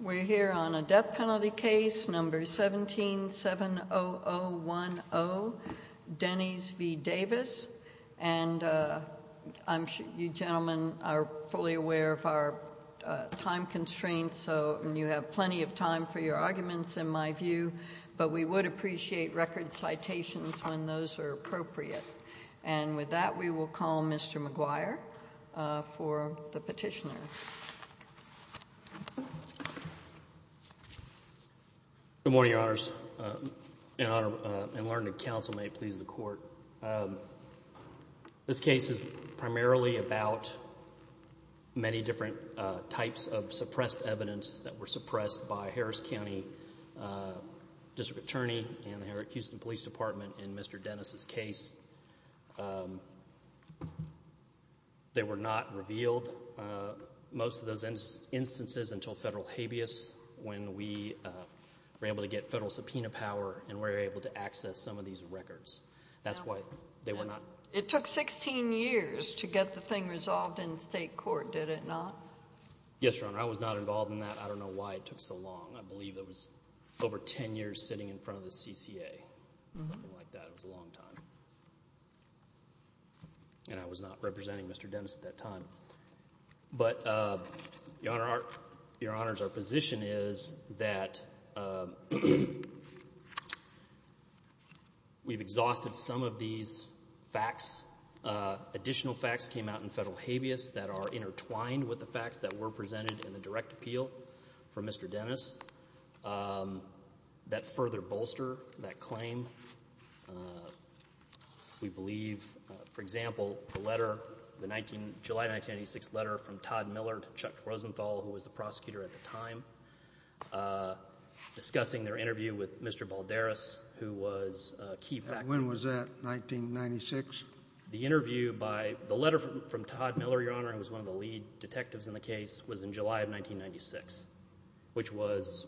We're here on a death penalty case, number 1770010, Dennes v. Davis, and you gentlemen are fully aware of our time constraints, and you have plenty of time for your arguments in my view, but we would appreciate record citations when those are appropriate. And with that, we will call Mr. McGuire for the petitioner. Good morning, Your Honors. In honor and learning of counsel, may it please the Court. This case is primarily about many different types of suppressed evidence that were suppressed by Harris County District Attorney and the Houston Police Department in Mr. Dennes' case. They were not revealed, most of those instances, until federal habeas when we were able to get federal subpoena power and were able to access some of these records. That's why they were not... It took 16 years to get the thing resolved in state court, did it not? Yes, Your Honor. I was not involved in that. I don't know why it took so long. I believe it was over 10 years sitting in front of the CCA, something like that. It was a long time. And I was not representing Mr. Dennes at that time. But, Your Honors, our position is that we've exhausted some of these facts. Additional facts came out in federal habeas that are intertwined with the facts that were presented in the direct appeal for Mr. Dennes that further bolster that claim. We believe, for example, the letter, the July 1996 letter from Todd Miller to Chuck Rosenthal, who was the prosecutor at the time, discussing their interview with Mr. Balderas, who was a key factor. When was that, 1996? The interview by the letter from Todd Miller, Your Honor, who was one of the lead detectives in the case, was in July of 1996, which was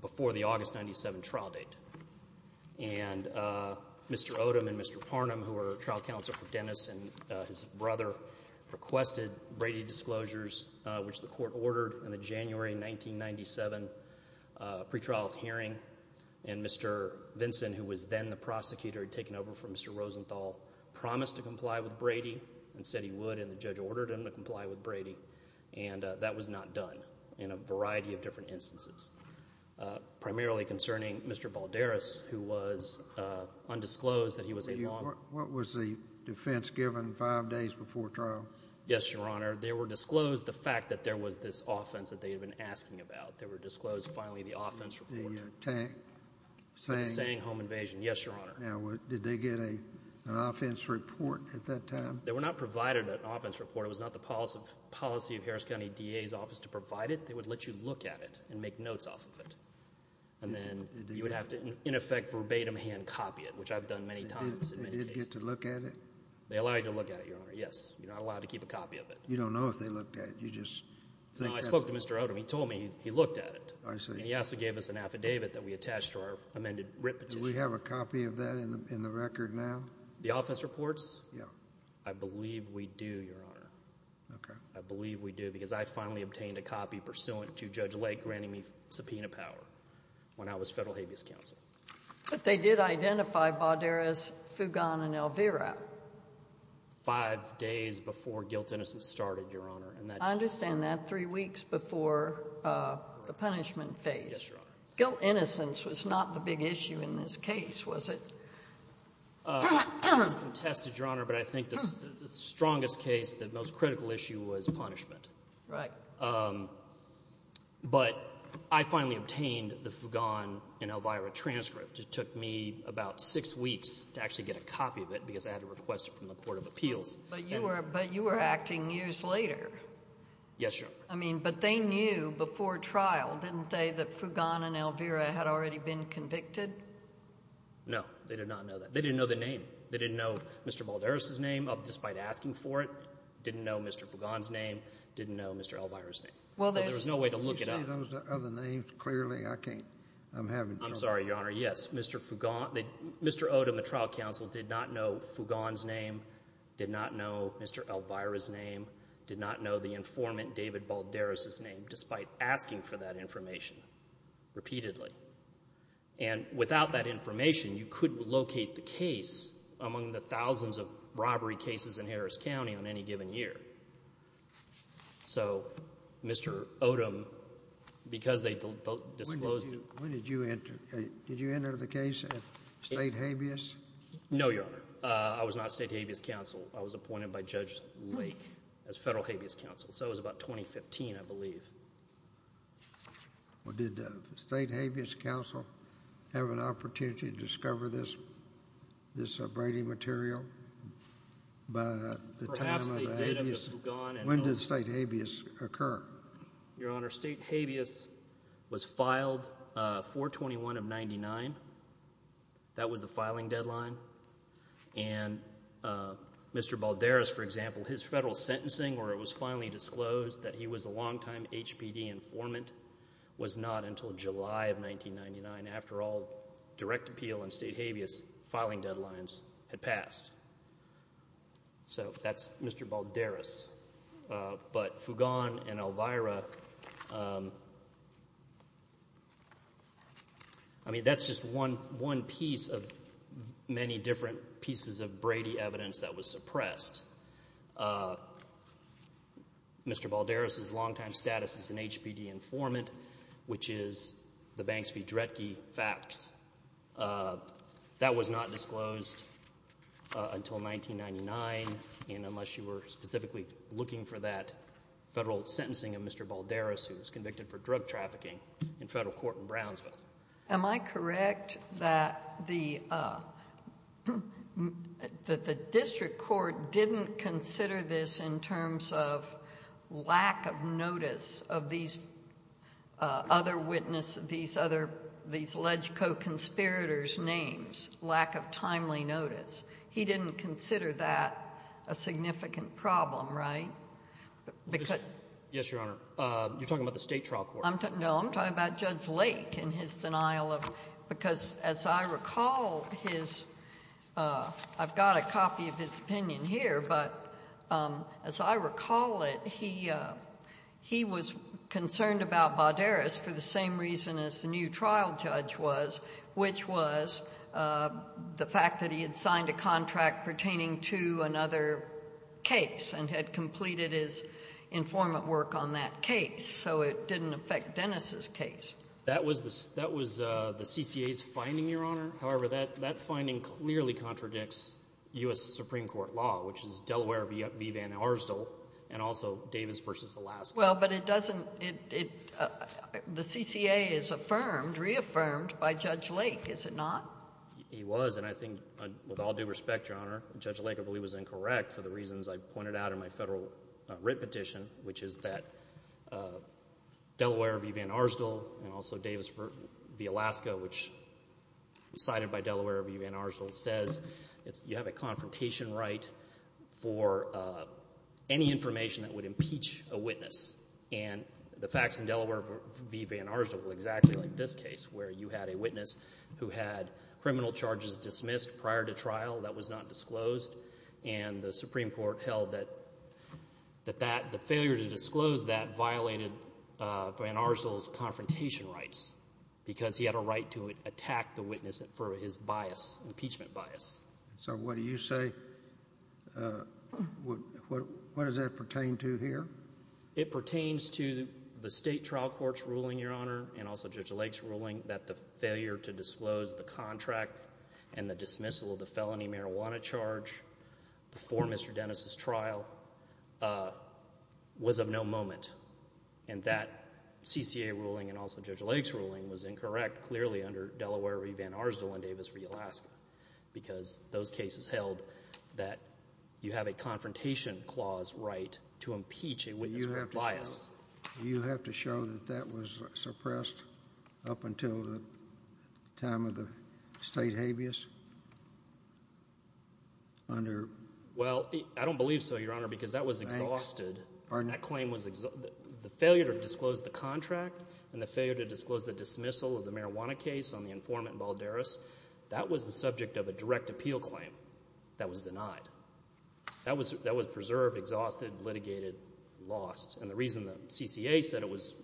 before the August 97 trial date. And Mr. Odom and Mr. Parnum, who were trial counsel for Dennes and his brother, requested Brady disclosures which the court ordered in the January 1997 pretrial hearing. And Mr. Vinson, who was then the prosecutor had taken over from Mr. Rosenthal, promised to comply with Brady and said he would. And the judge ordered him to comply with Brady. And that was not done in a variety of different instances, primarily concerning Mr. Balderas, who was undisclosed that he was a lawman. What was the defense given five days before trial? Yes, Your Honor. They were disclosed the fact that there was this offense that they had been asking about. They were disclosed, finally, the offense report. The attack. The Tsang home invasion. Yes, Your Honor. Now, did they get an offense report at that time? They were not provided an offense report. It was not the policy of Harris County DA's office to provide it. They would let you look at it and make notes off of it. And then you would have to, in effect, verbatim hand copy it, which I've done many times in many cases. Did they get to look at it? They allow you to look at it, Your Honor. Yes. You're not allowed to keep a copy of You don't know if they looked at it. You just think that's the law. No, I spoke to Mr. Odom. He told me he looked at it. I see. And he also gave us an affidavit that we attached to our amended writ petition. Do we have a copy of that in the record now? The offense reports? Yeah. I believe we do, Your Honor. Okay. I believe we do, because I finally obtained a copy pursuant to Judge Lake granting me subpoena power when I was federal habeas counsel. But they did identify Bauderas, Fugan, and Elvira. Five days before guilt-innocence started, Your Honor. I understand that. Three weeks before the punishment phase. Yes, Your Honor. Guilt-innocence was not the big issue in this case, was it? It was contested, Your Honor. But I think the strongest case, the most critical issue was punishment. Right. But I finally obtained the Fugan and Elvira transcript. It took me about six weeks to actually get a copy of it, because I had to request it from the Court of Appeals. But you were acting years later. Yes, Your Honor. I mean, but they knew before trial, didn't they, that Fugan and Elvira had already been convicted? No. They did not know that. They didn't know the name. They didn't know Mr. Bauderas' name, despite asking for it, didn't know Mr. Fugan's name, didn't know Mr. Elvira's name. So there was no way to look it up. Can you say those other names clearly? I can't. I'm having trouble. I'm sorry, Your Honor. Yes. Mr. Fugan, Mr. Odom, the trial counsel, did not know Fugan's name, did not know Mr. Elvira's name, did not know the informant David Bauderas' name, despite asking for that information repeatedly. And without that information, you couldn't locate the case among the thousands of robbery cases in Harris County on any given year. So Mr. Odom, because they disclosed it. When did you enter? Did you enter the case at State Habeas? No, Your Honor. I was not State Habeas Counsel. I was appointed by Judge Lake as Federal Habeas Counsel. So it was about 2015, I believe. Well, did State Habeas Counsel have an opportunity to discover this braiding material by the time of the Habeas? Perhaps they did, Mr. Fugan. When did State Habeas occur? Your Honor, State Habeas was filed 4-21-99. That was the filing deadline. And Mr. Bauderas, for example, his federal sentencing where it was finally disclosed that he was a longtime HPD informant was not until July of 1999. After all, direct appeal and State Habeas filing deadlines had passed. So that's Mr. Bauderas. But Fugan and Elvira, I mean, that's just one piece of many different pieces of Brady evidence that was suppressed. Mr. Bauderas' longtime status as an HPD informant, which is the Banks v. Dredge facts, that was not disclosed until 1999, unless you were specifically looking for that federal sentencing of Mr. Bauderas who was convicted for drug trafficking in federal court in Brownsville. Am I correct that the district court didn't consider this in terms of lack of notice of these other witness, these other, these LegCo conspirators' names, lack of timely notice? He didn't consider that a significant problem, right? Yes, Your Honor. You're talking about the state trial court. No, I'm talking about Judge Lake and his denial of, because as I recall his, I've got a copy of his opinion here, but as I recall it, he was concerned about Bauderas for the same reason as the new trial judge was, which was the fact that he had signed a contract pertaining to another case and had completed his informant work on that case. So it didn't affect Dennis' case. That was the CCA's finding, Your Honor. However, that finding clearly contradicts U.S. Supreme Court law, which is Delaware v. Van Arsdell and also Davis v. Alaska. Well, but it doesn't, it, the CCA is affirmed, reaffirmed by Judge Lake. Is it not? He was, and I think with all due respect, Your Honor, Judge Lake, I believe, was incorrect for the reasons I pointed out in my federal writ petition, which is that Delaware v. Van Arsdell and also Davis v. Alaska, which was cited by Delaware v. Van Arsdell, says you have a witness, and the facts in Delaware v. Van Arsdell were exactly like this case, where you had a witness who had criminal charges dismissed prior to trial that was not disclosed, and the Supreme Court held that, that that, the failure to disclose that violated Van Arsdell's confrontation rights because he had a right to attack the witness for his bias, impeachment bias. So what do you say, what does that pertain to here? It pertains to the state trial court's ruling, Your Honor, and also Judge Lake's ruling, that the failure to disclose the contract and the dismissal of the felony marijuana charge before Mr. Dennis' trial was of no moment, and that CCA ruling and also Judge Lake's ruling was incorrect, clearly, under Delaware v. Van Arsdell and Davis v. Alaska, because those cases held that you have a confrontation clause right to impeach a witness for bias. Do you have to show that that was suppressed up until the time of the state habeas? Well, I don't believe so, Your Honor, because that was exhausted, that claim was, the failure to disclose the contract and the failure to disclose the dismissal of the marijuana case on the informant, Balderas, that was the subject of a direct appeal claim that was denied. That was preserved, exhausted, litigated, lost. And the reason the CCA said it was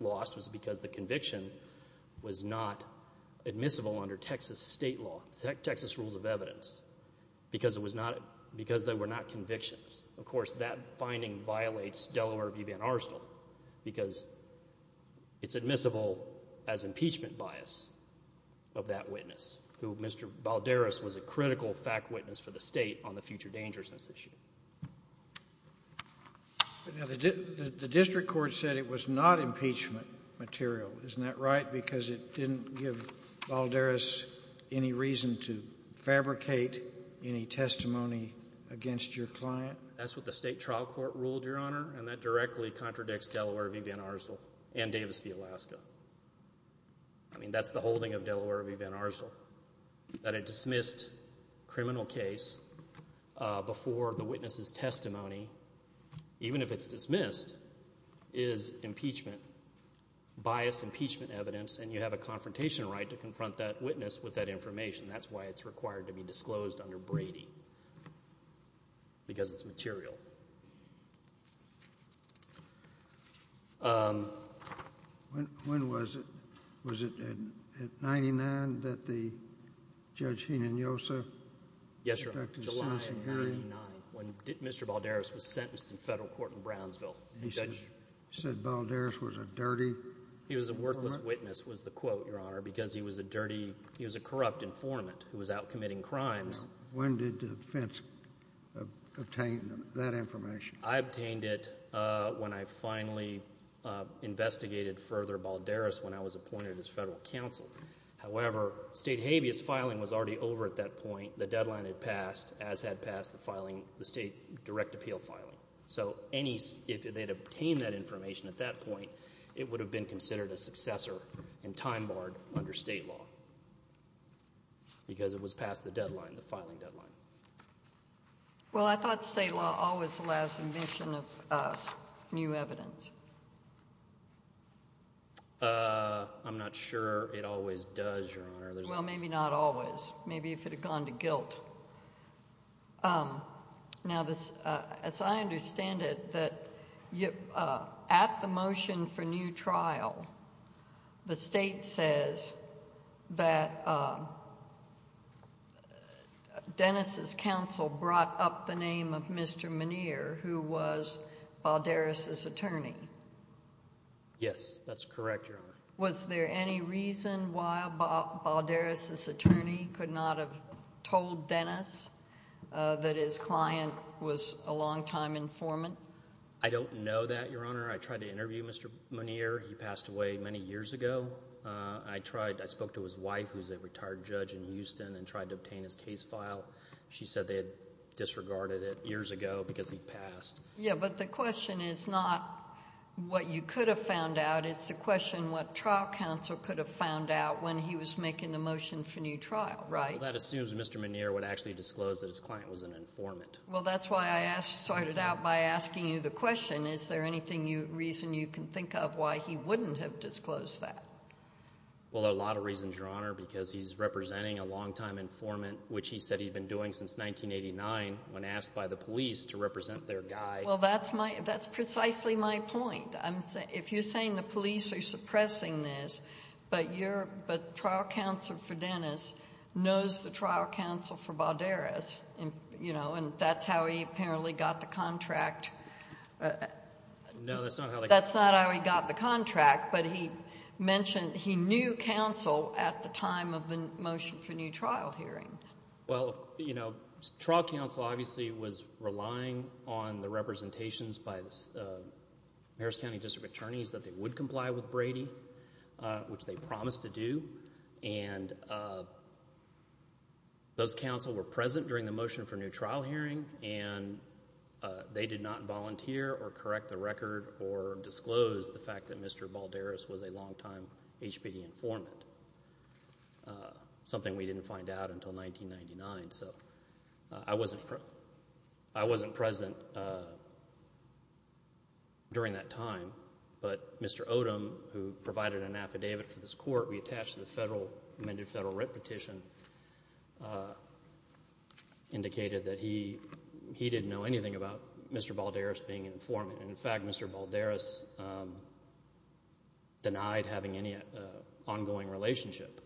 lost was because the conviction was not admissible under Texas state law, Texas rules of evidence, because they were not convictions. Of course, that finding violates Delaware v. Van Arsdell, because it's admissible as impeachment bias of that witness, who Mr. Balderas was a witness to on the future dangerousness issue. The district court said it was not impeachment material, isn't that right, because it didn't give Balderas any reason to fabricate any testimony against your client? That's what the state trial court ruled, Your Honor, and that directly contradicts Delaware v. Van Arsdell and Davis v. Alaska. I mean, that's the holding of Delaware v. Van Arsdell, that a dismissed criminal case before the witness's testimony, even if it's dismissed, is impeachment, bias impeachment evidence, and you have a confrontation right to confront that witness with that information. That's why it's required to be disclosed under Brady, because it's material. When was it? Was it at 99 that the Judge Hinojosa? Yes, Your Honor, July of 99, when Mr. Balderas was sentenced in federal court in Brownsville. He said Balderas was a dirty informant? He was a worthless witness, was the quote, Your Honor, because he was a corrupt informant who was out committing crimes. When did the defense obtain that information? I obtained it when I finally investigated further Balderas when I was appointed as federal counsel. However, state habeas filing was already over at that point. The deadline had passed, as had passed the filing, the state direct appeal filing. So if they'd obtained that information at that point, it would have been considered a successor and time barred under state law, because it was past the deadline, the filing deadline. Well, I thought state law always allows omission of new evidence. I'm not sure it always does, Your Honor. Well, maybe not always. Maybe if it had gone to guilt. Now, as I understand it, that at the motion for new trial, the state says that Dennis' counsel brought up the name of Mr. Muneer, who was Balderas' attorney. Yes, that's correct, Your Honor. Was there any reason why Balderas' attorney could not have told Dennis that his client was a longtime informant? I don't know that, Your Honor. I tried to interview Mr. Muneer. He passed away many years ago. I spoke to his wife, who's a retired judge in Houston, and tried to obtain his case file. She said they had disregarded it years ago because he passed. Yeah, but the question is not what you could have found out. It's the question what trial counsel could have found out when he was making the motion for new trial, right? Well, that assumes Mr. Muneer would actually disclose that his client was an informant. Well, that's why I started out by asking you the question, is there any reason you can think of why he wouldn't have disclosed that? Well, there are a lot of reasons, Your Honor, because he's representing a longtime informant, which he said he'd been doing since 1989 when asked by the police to represent their guy. Well, that's precisely my point. If you're saying the police are suppressing this, but trial counsel for Dennis knows the trial counsel for Balderas, and that's how he apparently got the contract. No, that's not how they got the contract. That's not how he got the contract, but he mentioned he knew counsel at the time of the motion for new trial hearing. Well, you know, trial counsel obviously was relying on the representations by the Harris County District Attorneys that they would comply with Brady, which they promised to do. And those counsel were present during the motion for new trial hearing, and they did not volunteer or correct the record or disclose the fact that Mr. Balderas was a longtime HPD informant, something we didn't find out until 1999. So I wasn't present during that time, but Mr. Odom, who provided an affidavit for this court reattached to the federal, amended that he didn't know anything about Mr. Balderas being an informant. And in fact, Mr. Balderas denied having any ongoing relationship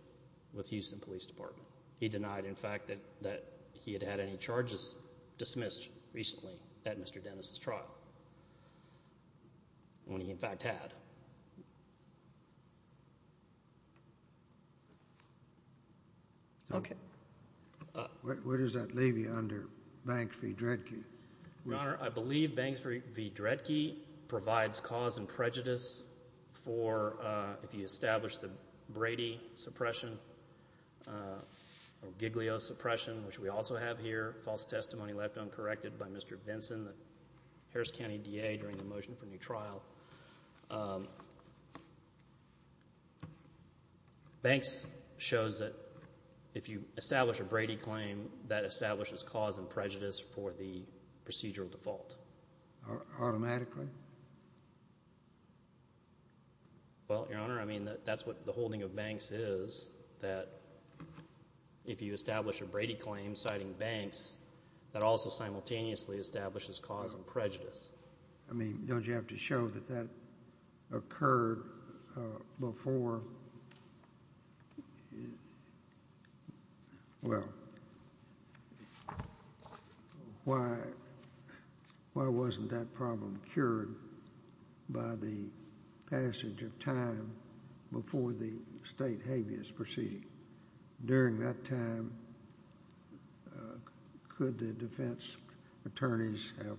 with Houston Police Department. He denied, in fact, that he had had any charges dismissed recently at Mr. Dennis' trial, when he in fact had. Okay. Where does that leave you under Banks v. Dredge? Your Honor, I believe Banks v. Dredge provides cause and prejudice for, if you establish the Brady suppression or Giglio suppression, which we also have here, false testimony left uncorrected by Mr. Benson, the Harris County DA during the motion for new trial. Banks shows that if you establish a Brady claim, that establishes cause and prejudice for the procedural default. Automatically? Well, Your Honor, I mean, that's what the holding of Banks is, that if you establish a Brady claim citing Banks, that also simultaneously establishes cause and prejudice. I mean, don't you have to show that that occurred before... Well, why wasn't that problem cured by the passage of time before the state habeas proceeding? During that time, could the defense attorneys have...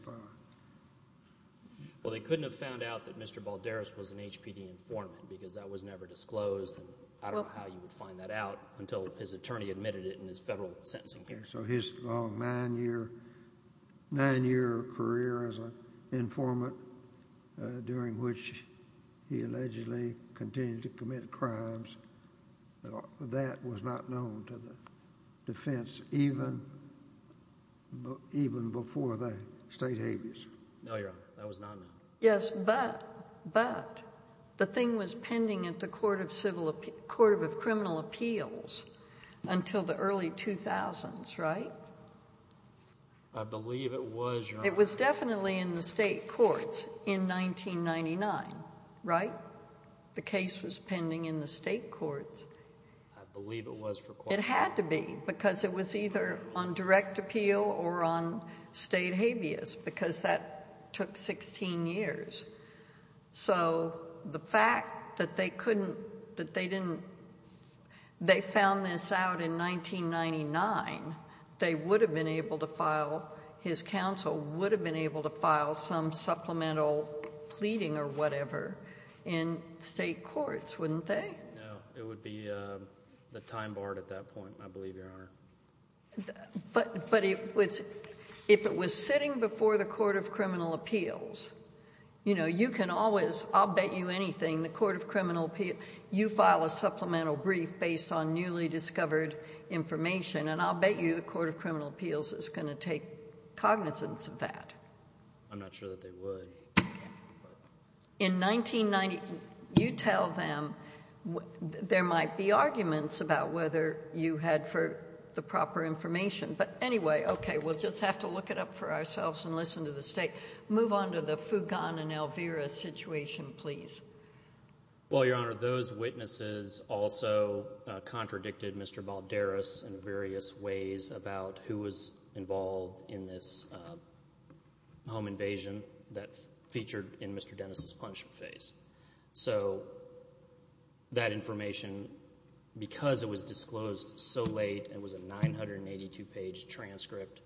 Well, they couldn't have found out that Mr. Balderas was an HPD informant because that was never disclosed. I don't know how you would find that out until his attorney admitted it in his federal sentencing hearing. So his long nine-year career as an informant, during which he allegedly continued to commit crimes, that was not known to the defense even before the state habeas. No, Your Honor, that was not known. Yes, but the thing was pending at the Court of Criminal Appeals until the early 2000s, right? I believe it was, Your Honor. It was definitely in the state courts in 1999, right? The case was pending in the state courts. I believe it was for... It had to be because it was either on direct appeal or on state habeas because that took 16 years. So the fact that they couldn't... that they didn't... They found this out in 1999. They would have been able to file... His counsel would have been able to file some supplemental pleading or whatever in state courts, wouldn't they? No, it would be the time barred at that point, I believe, Your Honor. But if it was sitting before the Court of Criminal Appeals, you know, you can always... I'll bet you anything the Court of Criminal Appeals... You file a supplemental brief based on newly discovered information, and I'll bet you the Court of Criminal Appeals is going to take cognizance of that. I'm not sure that they would. In 1990... You tell them there might be arguments about whether you had the proper information, but anyway, okay, we'll just have to look it up for ourselves and listen to the state. Move on to the Fugan and Elvira situation, please. Well, Your Honor, those witnesses also contradicted Mr. Balderas in various ways about who was involved in this home invasion that featured in Mr. Dennis' punishment phase. So that information, because it was disclosed so late and was a 982-page transcript,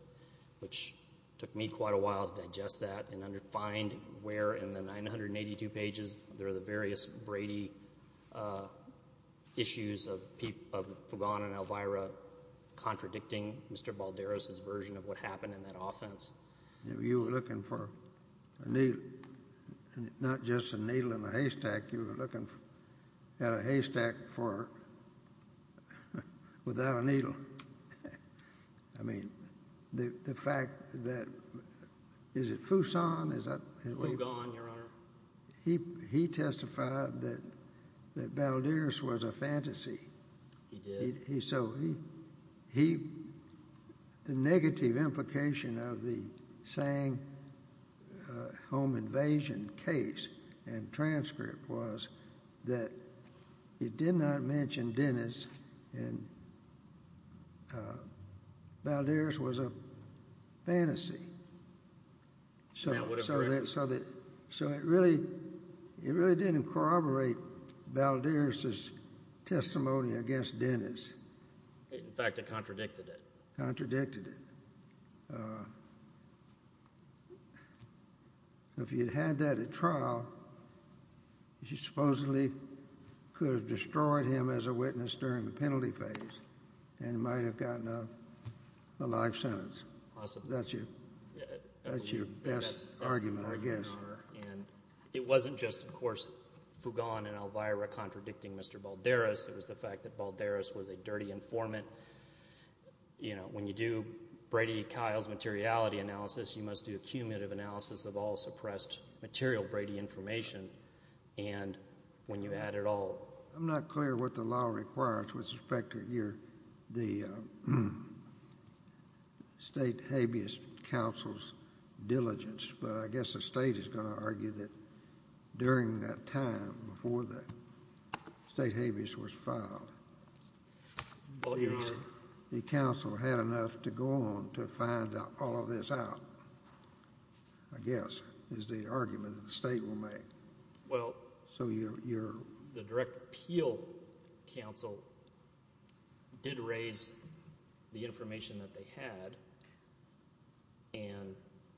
which took me quite a while to digest that and find where in the 982 pages there are the various Brady issues of Fugan and Elvira contradicting Mr. Balderas' version of what happened in that offense. You were looking for not just a needle in a haystack, you were looking at a haystack without a needle. I mean, the fact that... Is it Fusan? Fugan, Your Honor. He testified that Balderas was a fantasy. He did? So the negative implication of the Tsang home invasion case and transcript was that it did not mention Dennis and Balderas was a fantasy. So it really didn't corroborate Balderas' testimony against Dennis. In fact, it contradicted it. Contradicted it. If you had had that at trial, you supposedly could have destroyed him as a witness during the penalty phase and might have gotten a life sentence. That's your best argument, I guess. It wasn't just, of course, Fugan and Elvira contradicting Mr. Balderas. It was the fact that Balderas was a dirty informant. You know, when you do Brady-Kiles materiality analysis, you must do a cumulative analysis of all suppressed material Brady information. And when you add it all... State habeas counsel's diligence. But I guess the state is going to argue that during that time before the state habeas was filed... Well, Your Honor...... the counsel had enough to go on to find all of this out, I guess, is the argument that the state will make. Well... So you're... The direct appeal counsel did raise the information that they had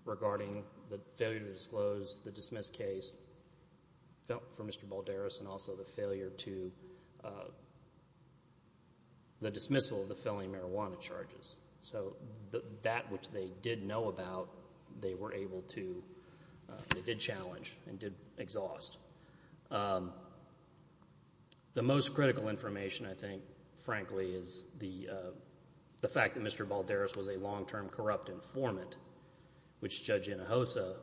regarding the failure to disclose the dismissed case for Mr. Balderas and also the failure to... the dismissal of the felony marijuana charges. So that which they did know about, they were able to... and did exhaust. The most critical information, I think, frankly, is the fact that Mr. Balderas was a long-term corrupt informant, which Judge Inhofe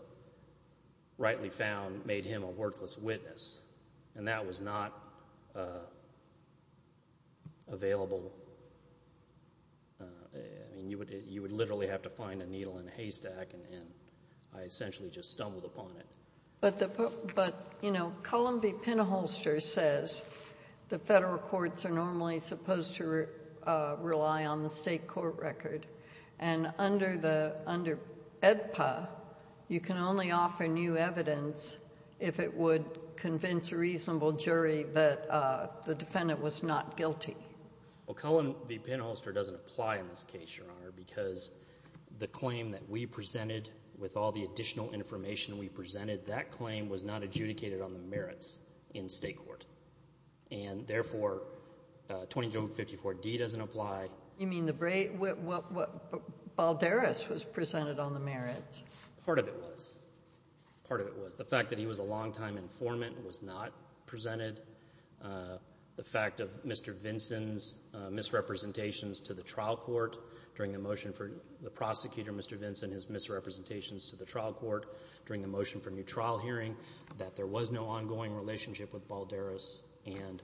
rightly found made him a worthless witness. And that was not available... I mean, you would literally have to find a needle in a haystack, and I essentially just stumbled upon it. But the... But, you know, Cullen v. Penholster says the federal courts are normally supposed to rely on the state court record. And under the... under AEDPA, you can only offer new evidence if it would convince a reasonable jury that the defendant was not guilty. Well, Cullen v. Penholster doesn't apply in this case, Your Honor, because the claim that we presented, with all the additional information we presented, that claim was not adjudicated on the merits in state court. And, therefore, 2254D doesn't apply. You mean the... Balderas was presented on the merits? Part of it was. Part of it was. The fact that he was a long-time informant was not presented. The fact of Mr. Vinson's misrepresentations to the trial court during the motion for the prosecutor, Mr. Vinson, his misrepresentations to the trial court during the motion for new trial hearing, that there was no ongoing relationship with Balderas. And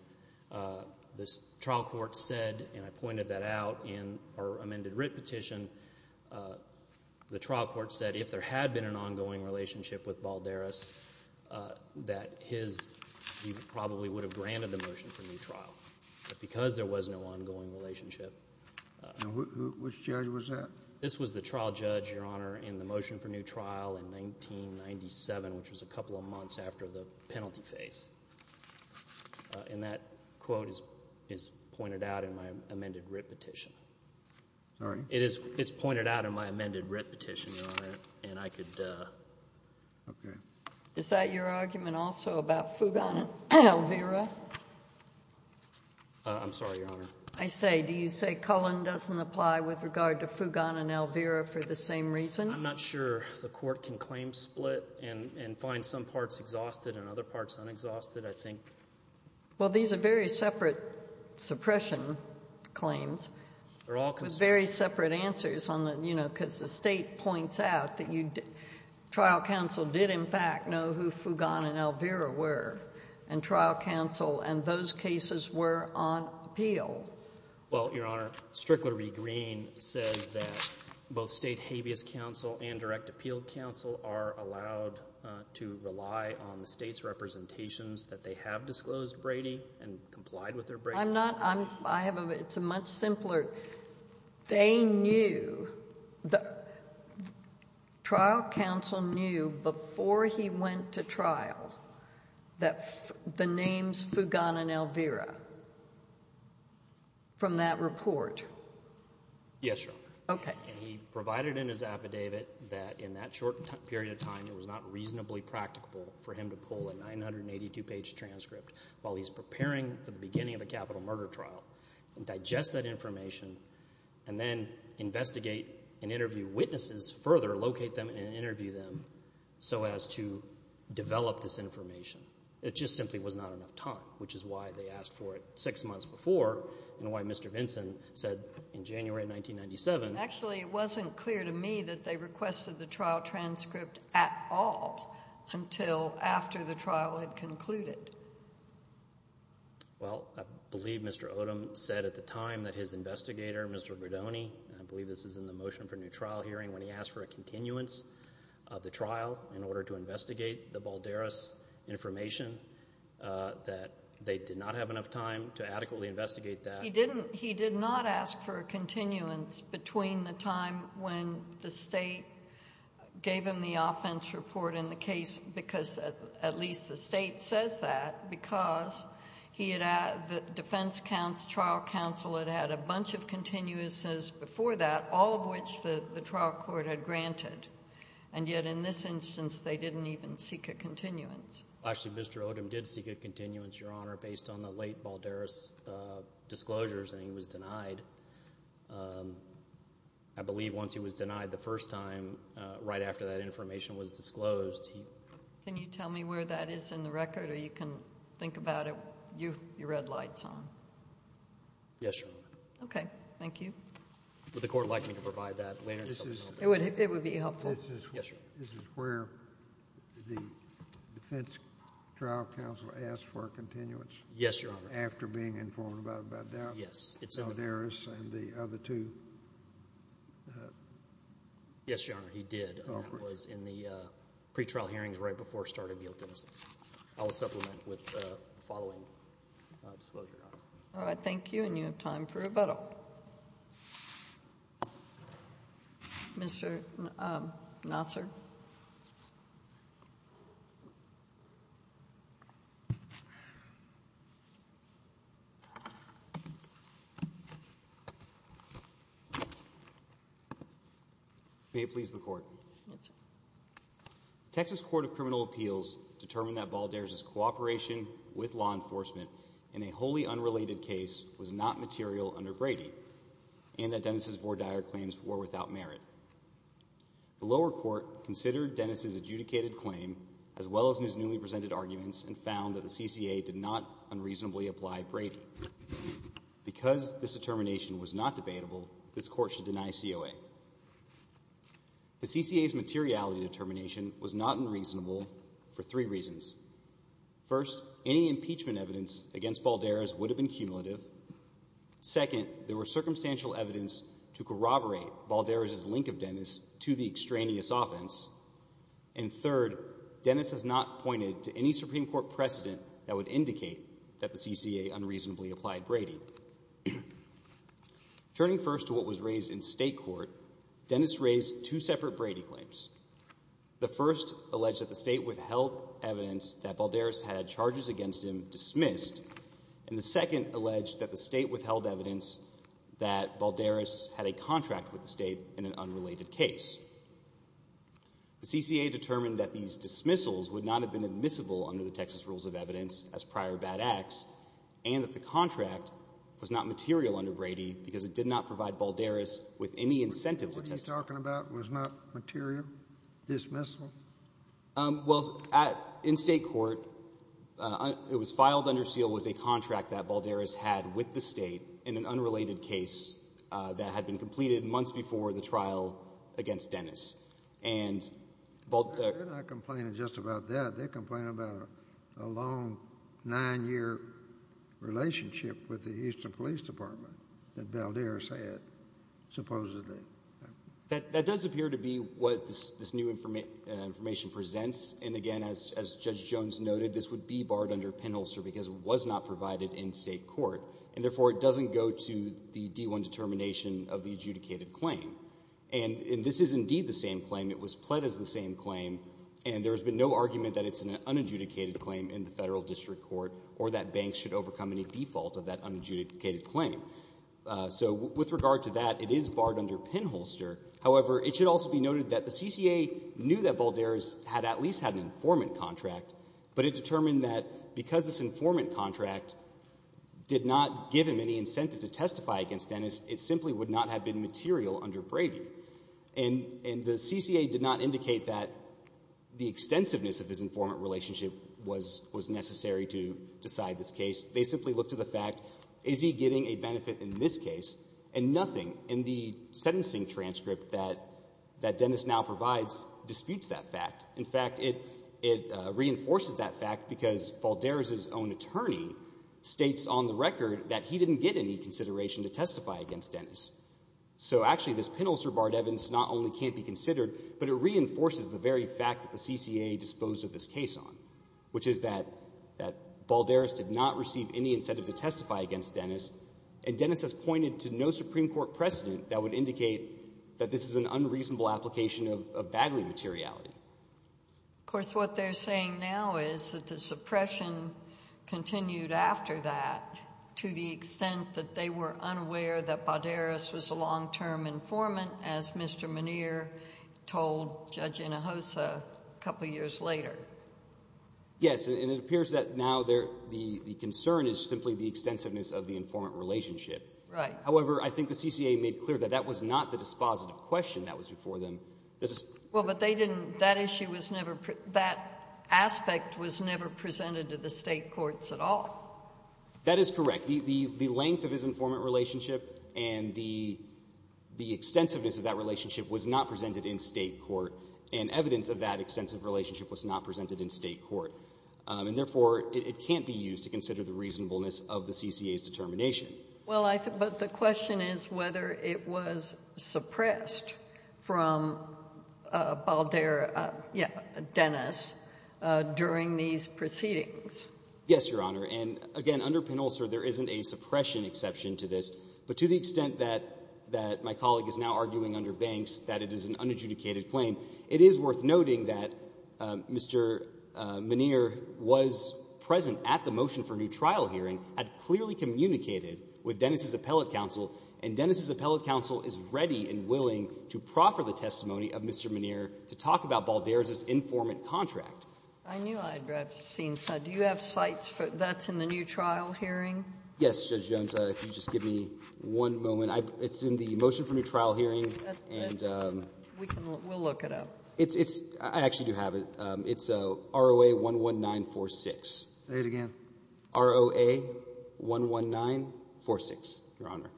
the trial court said, and I pointed that out in our amended writ petition, the trial court said if there had been an ongoing relationship with Balderas, that his... he probably would have granted the motion for new trial. But because there was no ongoing relationship... Which judge was that? This was the trial judge, Your Honor, in the motion for new trial in 1997, which was a couple of months after the penalty phase. And that quote is pointed out in my amended writ petition. Sorry? It's pointed out in my amended writ petition, Your Honor, and I could... Okay. Is that your argument also about Fugan and Elvira? I'm sorry, Your Honor. I say, do you say Cullen doesn't apply with regard to Fugan and Elvira for the same reason? I'm not sure the court can claim split and find some parts exhausted and other parts unexhausted, I think. Well, these are very separate suppression claims. They're all... With very separate answers on the... You know, because the state points out that you... Trial counsel did, in fact, know who Fugan and Elvira were, and trial counsel, and those cases were on appeal. Well, Your Honor, Strickler v. Green says that both state habeas counsel and direct appeal counsel are allowed to rely on the state's representations that they have disclosed Brady and complied with their Brady... I'm not... I have a... It's a much simpler... They knew... Trial counsel knew before he went to trial that the names Fugan and Elvira from that report... Yes, Your Honor. Okay. And he provided in his affidavit that in that short period of time it was not reasonably practicable for him to pull a 982-page transcript while he's preparing for the beginning of a capital murder trial and digest that information and then investigate and interview witnesses further, locate them and interview them so as to develop this information. It just simply was not enough time, which is why they asked for it six months before and why Mr. Vinson said in January 1997... Actually, it wasn't clear to me that they requested the trial transcript at all until after the trial had concluded. Well, I believe Mr. Odom said at the time that his investigator, Mr. Guidoni, and I believe this is in the motion for new trial hearing, when he asked for a continuance of the trial in order to investigate the Balderas information, that they did not have enough time to adequately investigate that. He didn't... He did not ask for a continuance between the time when the State gave him the offense report in the case because at least the State says that because he had... It was before that, all of which the trial court had granted. And yet in this instance, they didn't even seek a continuance. Actually, Mr. Odom did seek a continuance, Your Honor, based on the late Balderas' disclosures and he was denied. I believe once he was denied the first time, right after that information was disclosed, he... Can you tell me where that is in the record? Or you can think about it with your red lights on. Yes, Your Honor. Okay. Thank you. Would the Court like me to provide that later? It would be helpful. Yes, Your Honor. This is where the defense trial counsel asked for a continuance? Yes, Your Honor. After being informed about that? Yes, it's in the... Balderas and the other two? Yes, Your Honor, he did. And that was in the pre-trial hearings right before the start of the guilt innocence. I will supplement with the following disclosure, Your Honor. All right. Thank you, and you have time for rebuttal. Mr. Nassar. May it please the Court. Yes, sir. The lower court found that Dennis Balderas' cooperation with law enforcement in a wholly unrelated case was not material under Brady and that Dennis' vore dire claims were without merit. The lower court considered Dennis' adjudicated claim as well as his newly presented arguments and found that the CCA did not unreasonably apply Brady. Because this determination was not debatable, this Court should deny COA. The CCA's materiality determination was not unreasonable for three reasons. First, any impeachment evidence against Balderas would have been cumulative. Second, there was circumstantial evidence to corroborate Balderas' link of Dennis to the extraneous offense. And third, Dennis has not pointed to any Supreme Court precedent that would indicate that the CCA unreasonably applied Brady. Turning first to what was raised in State Court, Dennis raised two separate Brady claims. The first alleged that the State withheld evidence that Balderas had charges against him dismissed and the second alleged that the State withheld evidence that Balderas had a contract with the State in an unrelated case. The CCA determined that these dismissals would not have been admissible under the Texas Rules of Evidence as prior bad acts and that the contract was not material under Brady because it did not provide Balderas with any incentive to testify. What you're talking about was not material dismissal? Well, in State Court, it was filed under seal was a contract that Balderas had with the State in an unrelated case that had been completed months before the trial against Dennis. They're not complaining just about that. They're complaining about a long nine-year relationship with the Houston Police Department that Balderas had, supposedly. That does appear to be what this new information presents. And again, as Judge Jones noted, this would be barred under pinholster because it was not provided in State Court. And therefore, it doesn't go to the D1 determination of the adjudicated claim. And this is indeed the same claim. It was pled as the same claim. And there has been no argument that it's an unadjudicated claim in the Federal District Court or that banks should overcome any default of that unadjudicated claim. So with regard to that, it is barred under pinholster. However, it should also be noted that the CCA knew that Balderas had at least had an informant contract, but it determined that because this informant contract did not give him any incentive to testify against Dennis, it simply would not have been material under Bravey. And the CCA did not indicate that the extensiveness of his informant relationship was necessary to decide this case. They simply looked to the fact, is he getting a benefit in this case? And nothing in the sentencing transcript that Dennis now provides disputes that fact. In fact, it reinforces that fact because Balderas' own attorney states on the record that he didn't get any consideration to testify against Dennis. So actually, this pinholster barred evidence not only can't be considered, but it reinforces the very fact that the CCA disposed of this case on, which is that Balderas did not receive any incentive to testify against Dennis, and Dennis has pointed to no Supreme Court precedent that would indicate that this is an unreasonable application of Bagley materiality. Of course, what they're saying now is that the suppression continued after that to the extent that they were unaware that Balderas was a long-term informant, as Mr. Muneer told Judge Hinojosa a couple years later. Yes, and it appears that now the concern is simply the extensiveness of the informant relationship. However, I think the CCA made clear that that was not the dispositive question that was before them. Well, but they didn't, that issue was never, that aspect was never presented to the State courts at all. That is correct. The length of his informant relationship and the extensiveness of that relationship was not presented in State court, and evidence of that extensive relationship was not presented in State court. And therefore, it can't be used to consider the reasonableness of the CCA's determination. Well, but the question is whether it was suppressed from Balderas, yeah, Dennis, during these proceedings. Yes, Your Honor, and again, under Penolsa, there isn't a suppression exception to this, but to the extent that my colleague is now arguing under Banks that it is an unadjudicated claim, it is worth noting that Mr. Muneer was present at the motion for new trial hearing and clearly communicated with Dennis' appellate counsel, and Dennis' appellate counsel is ready and willing to proffer the testimony of Mr. Muneer to talk about Balderas' informant contract. I knew I'd have seen that. Do you have sights that's in the new trial hearing? Yes, Judge Jones, if you just give me one moment. It's in the motion for new trial hearing. We'll look it up. I actually do have it. It's ROA 11946. Say it again. ROA 11946, Your Honor.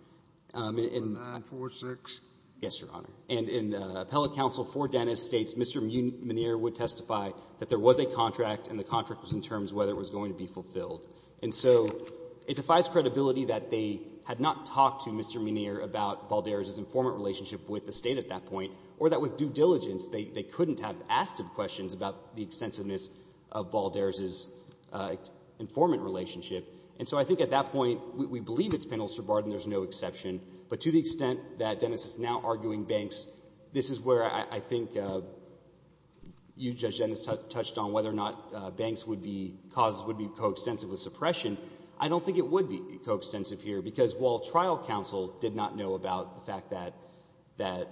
11946. Yes, Your Honor. And appellate counsel for Dennis states Mr. Muneer would testify that there was a contract and the contract was in terms of whether it was going to be fulfilled. And so it defies credibility that they had not talked to Mr. Muneer about Balderas' informant relationship with the State at that point, or that with due diligence they couldn't have asked him questions about the extensiveness of Balderas' informant relationship. And so I think at that point we believe it's Penal Subordination. There's no exception. But to the extent that Dennis is now arguing Banks, this is where I think you, Judge Dennis, touched on whether or not Banks would be co-extensive with suppression. I don't think it would be co-extensive here, because while trial counsel did not know about the fact that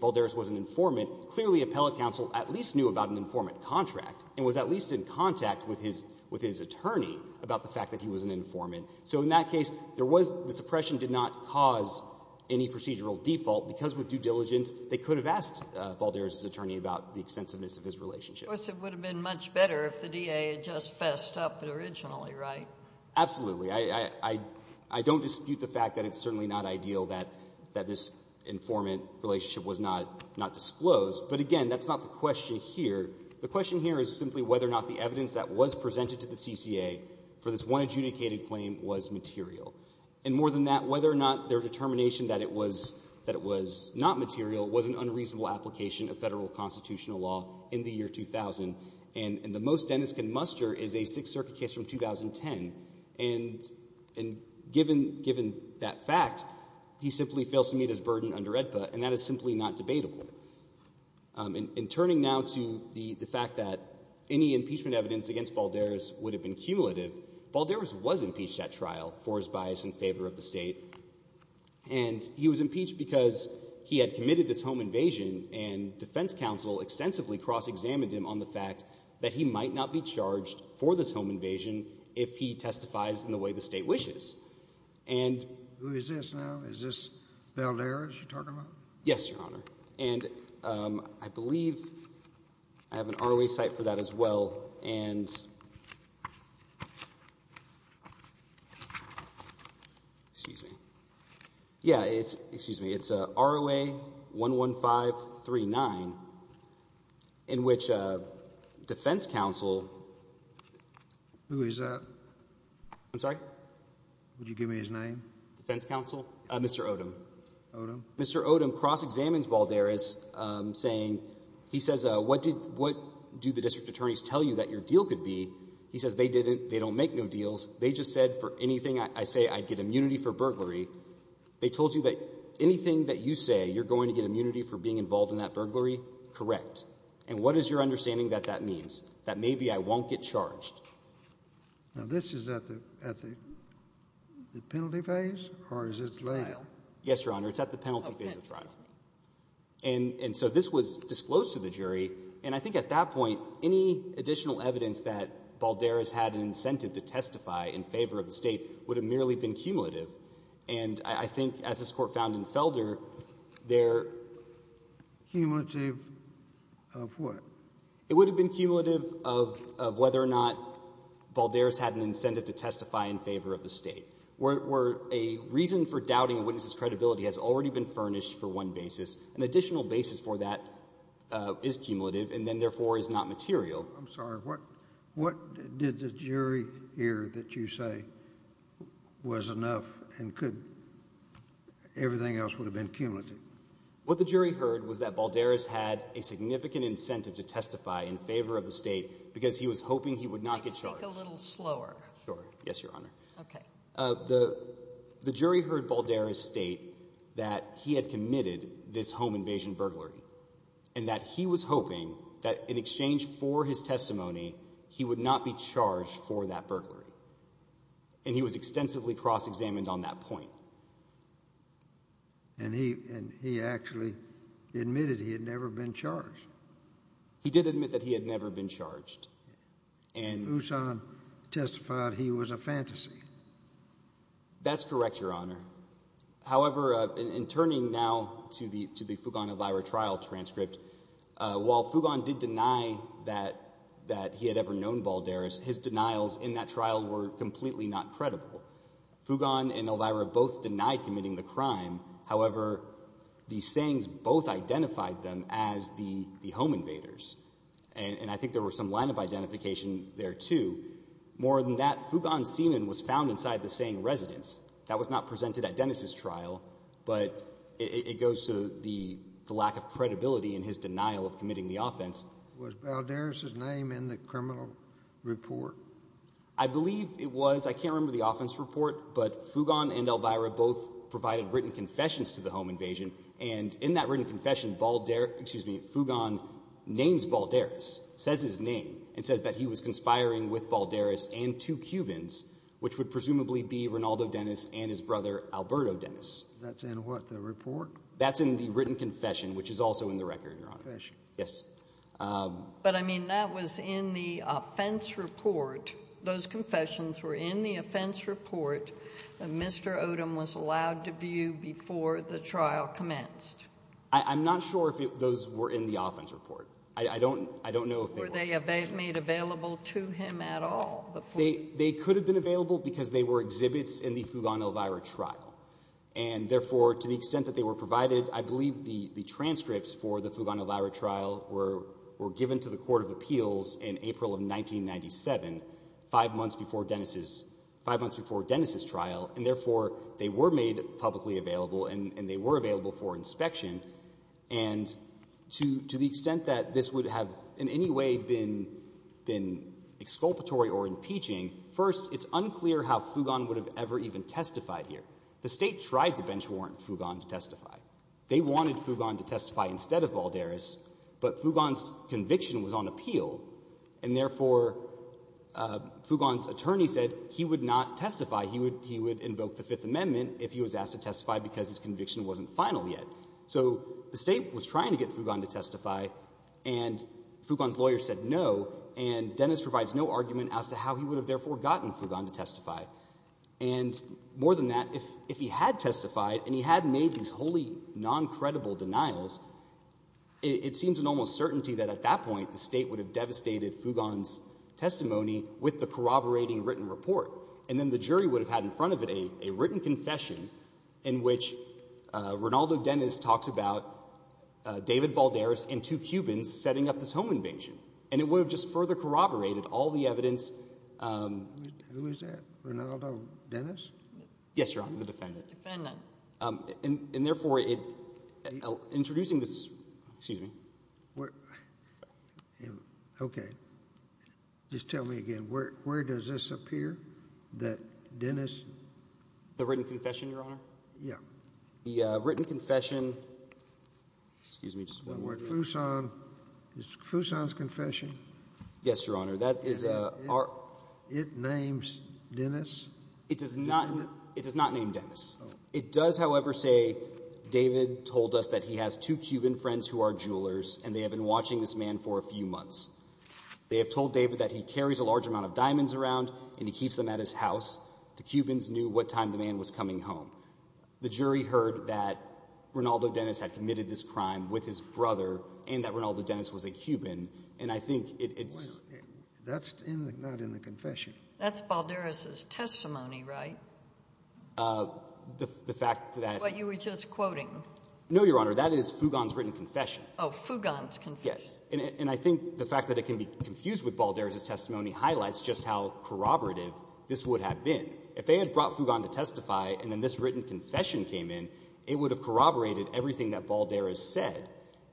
Balderas was an informant, clearly appellate counsel at least knew about an informant contract and was at least in contact with his attorney about the fact that he was an informant. So in that case, the suppression did not cause any procedural default, because with due diligence they could have asked Balderas' attorney about the extensiveness of his relationship. Of course, it would have been much better if the D.A. had just fessed up originally, right? Absolutely. I don't dispute the fact that it's certainly not ideal that this informant relationship was not disclosed. But again, that's not the question here. The question here is simply whether or not the evidence that was presented to the CCA for this one adjudicated claim was material. And more than that, whether or not their determination that it was not material was an unreasonable application of federal constitutional law in the year 2000. And the most Dennis can muster is a Sixth Circuit case from 2010. And given that fact, he simply fails to meet his burden under AEDPA, and that is simply not debatable. In turning now to the fact that any impeachment evidence against Balderas would have been cumulative, Balderas was impeached at trial for his bias in favor of the state, and he was impeached because he had committed this home invasion, and defense counsel extensively cross-examined him on the fact that he might not be charged for this home invasion if he testifies in the way the state wishes. Who is this now? Is this Balderas you're talking about? Yes, Your Honor. And I believe I have an ROA site for that as well, and... Excuse me. Yeah, excuse me. It's ROA 11539 in which defense counsel... Who is that? I'm sorry? Would you give me his name? Defense counsel? Mr. Odom. Mr. Odom cross-examines Balderas saying he says, what do the district attorneys tell you that your deal could be? He says they don't make no deals. They just said for anything I say, I'd get immunity for burglary. They told you that anything that you say you're going to get immunity for being involved in that burglary? Correct. And what is your understanding that that means? That maybe I won't get charged? Now, this is at the penalty phase, or is it later? Yes, Your Honor. It's at the penalty phase of trial. And so this was disclosed to the jury, and I think at that point, any additional evidence that Balderas had an incentive to testify in favor of the state would have merely been cumulative. And I think as this Court found in Felder, their... Cumulative of what? It would have been cumulative of whether or not Balderas had an incentive to testify in favor of the state. Where a reason for doubting a witness' credibility has already been furnished for one basis, an additional basis for that is cumulative, and then therefore is not material. I'm sorry, what did the jury hear that you say was enough, and could... everything else would have been cumulative? What the jury heard was that Balderas had a significant incentive to testify in favor of the state, because he was hoping he would not get charged. Can you speak a little slower? Sure. Yes, Your Honor. The jury heard Balderas state that he had committed this home invasion burglary, and that he was hoping that in exchange for his testimony, he would not be charged for that burglary. And he was extensively cross-examined on that point. And he actually admitted he had never been charged. He did admit that he had never been charged. And Fugon testified he was a fantasy. That's correct, Your Honor. However, in turning now to the Fugon-Elvira trial transcript, while Fugon did deny that he had ever known Balderas, his denials in that trial were completely not true. Both denied committing the crime. However, the sayings both identified them as the home invaders. And I think there was some line of identification there, too. More than that, Fugon's semen was found inside the saying residence. That was not presented at Dennis' trial, but it goes to the lack of credibility in his denial of committing the offense. Was Balderas' name in the criminal report? I believe it was. I can't remember the offense report, but Fugon and Elvira both provided written confessions to the home invasion. And in that written confession, Fugon names Balderas, says his name, and says that he was conspiring with Balderas and two Cubans, which would presumably be Rinaldo Dennis and his brother, Alberto Dennis. That's in what, the report? That's in the written confession, which is also in the record, Your Honor. Yes. But I mean, that was in the offense report. Those confessions were in the offense report that Mr. Odom was allowed to view before the trial commenced. I'm not sure if those were in the offense report. I don't know if they were. Were they made available to him at all? They could have been available because they were exhibits in the Fugon and Elvira trial. And therefore, to the extent that they were provided, I believe the transcripts for the Fugon and Elvira trial were given to the Court of Appeals in April of 1997, five months before Dennis's trial. And therefore, they were made publicly available and they were available for inspection. And to the extent that this would have in any way been exculpatory or impeaching, first, it's unclear how Fugon would have ever even testified here. The State tried to bench warrant Fugon to testify. They wanted Fugon to testify instead of Balderas, but Fugon's conviction was on appeal, and therefore Fugon's attorney said he would not testify. He would invoke the Fifth Amendment if he was asked to testify because his conviction wasn't final yet. So the State was trying to get Fugon to testify, and Fugon's lawyer said no, and Dennis provides no argument as to how he would have therefore gotten Fugon to testify. And more than that, if he had testified and he had made these wholly non-credible denials, it seems an almost certainty that at that point the State would have devastated Fugon's testimony with the corroborating written report. And then the jury would have had in front of it a written confession in which Rinaldo Dennis talks about David Balderas and two Cubans setting up this home invasion, and it would have just further corroborated all the evidence. Who is that? Rinaldo Dennis? Yes, Your Honor, the defendant. And therefore, introducing this... Excuse me. Okay. Just tell me again. Where does this appear that Dennis... The written confession, Your Honor? Yeah. The written confession... It's Croussant's confession? Yes, Your Honor. It names Dennis? It does not name Dennis. It does, however, say David told us that he has two Cuban friends who are jewelers, and they have been watching this man for a few months. They have told David that he carries a large amount of diamonds around, and he keeps them at his house. The Cubans knew what time the man was coming home. The jury heard that Rinaldo Dennis had committed this crime with his brother, and that Rinaldo Dennis was a Cuban. And I think it's... That's not in the confession. That's Balderas' testimony, right? The fact that... But you were just quoting. No, Your Honor. That is Fugon's written confession. Oh, Fugon's confession. Yes. And I think the fact that it can be confused with Balderas' testimony highlights just how corroborative this would have been. If they had brought Fugon to testify, and then this written confession came in, it would have corroborated everything that Balderas said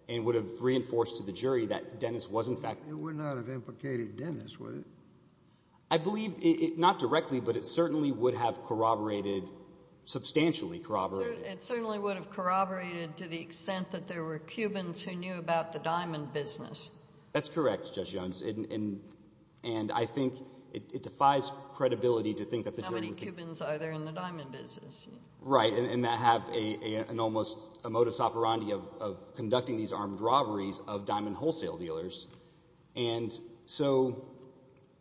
and would have reinforced to the jury that Dennis was, in fact... It would not have implicated Dennis, would it? I believe... Not directly, but it certainly would have corroborated... Substantially corroborated. It certainly would have corroborated to the extent that there were Cubans who knew about the diamond business. That's correct, Judge Jones. And I think it defies credibility to think that the jury... Right, and that have an almost modus operandi of conducting these armed robberies of diamond wholesale dealers. And so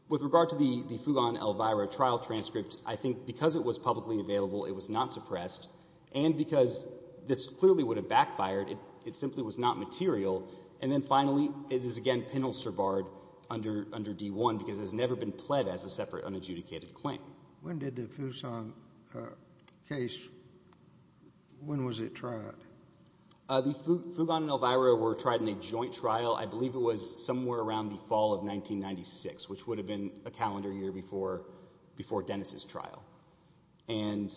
with regard to the Fugon L. Vyra trial transcript, I think because it was publicly available, it was not suppressed. And because this clearly would have backfired, it simply was not material. And then finally, it is again penalstirbarred under D-1 because it has never been pled as a separate unadjudicated claim. When did the Fuson case... When was it tried? The Fugon and L. Vyra were tried in a joint trial. I believe it was somewhere around the fall of 1996, which would have been a calendar year before Dennis' trial. And...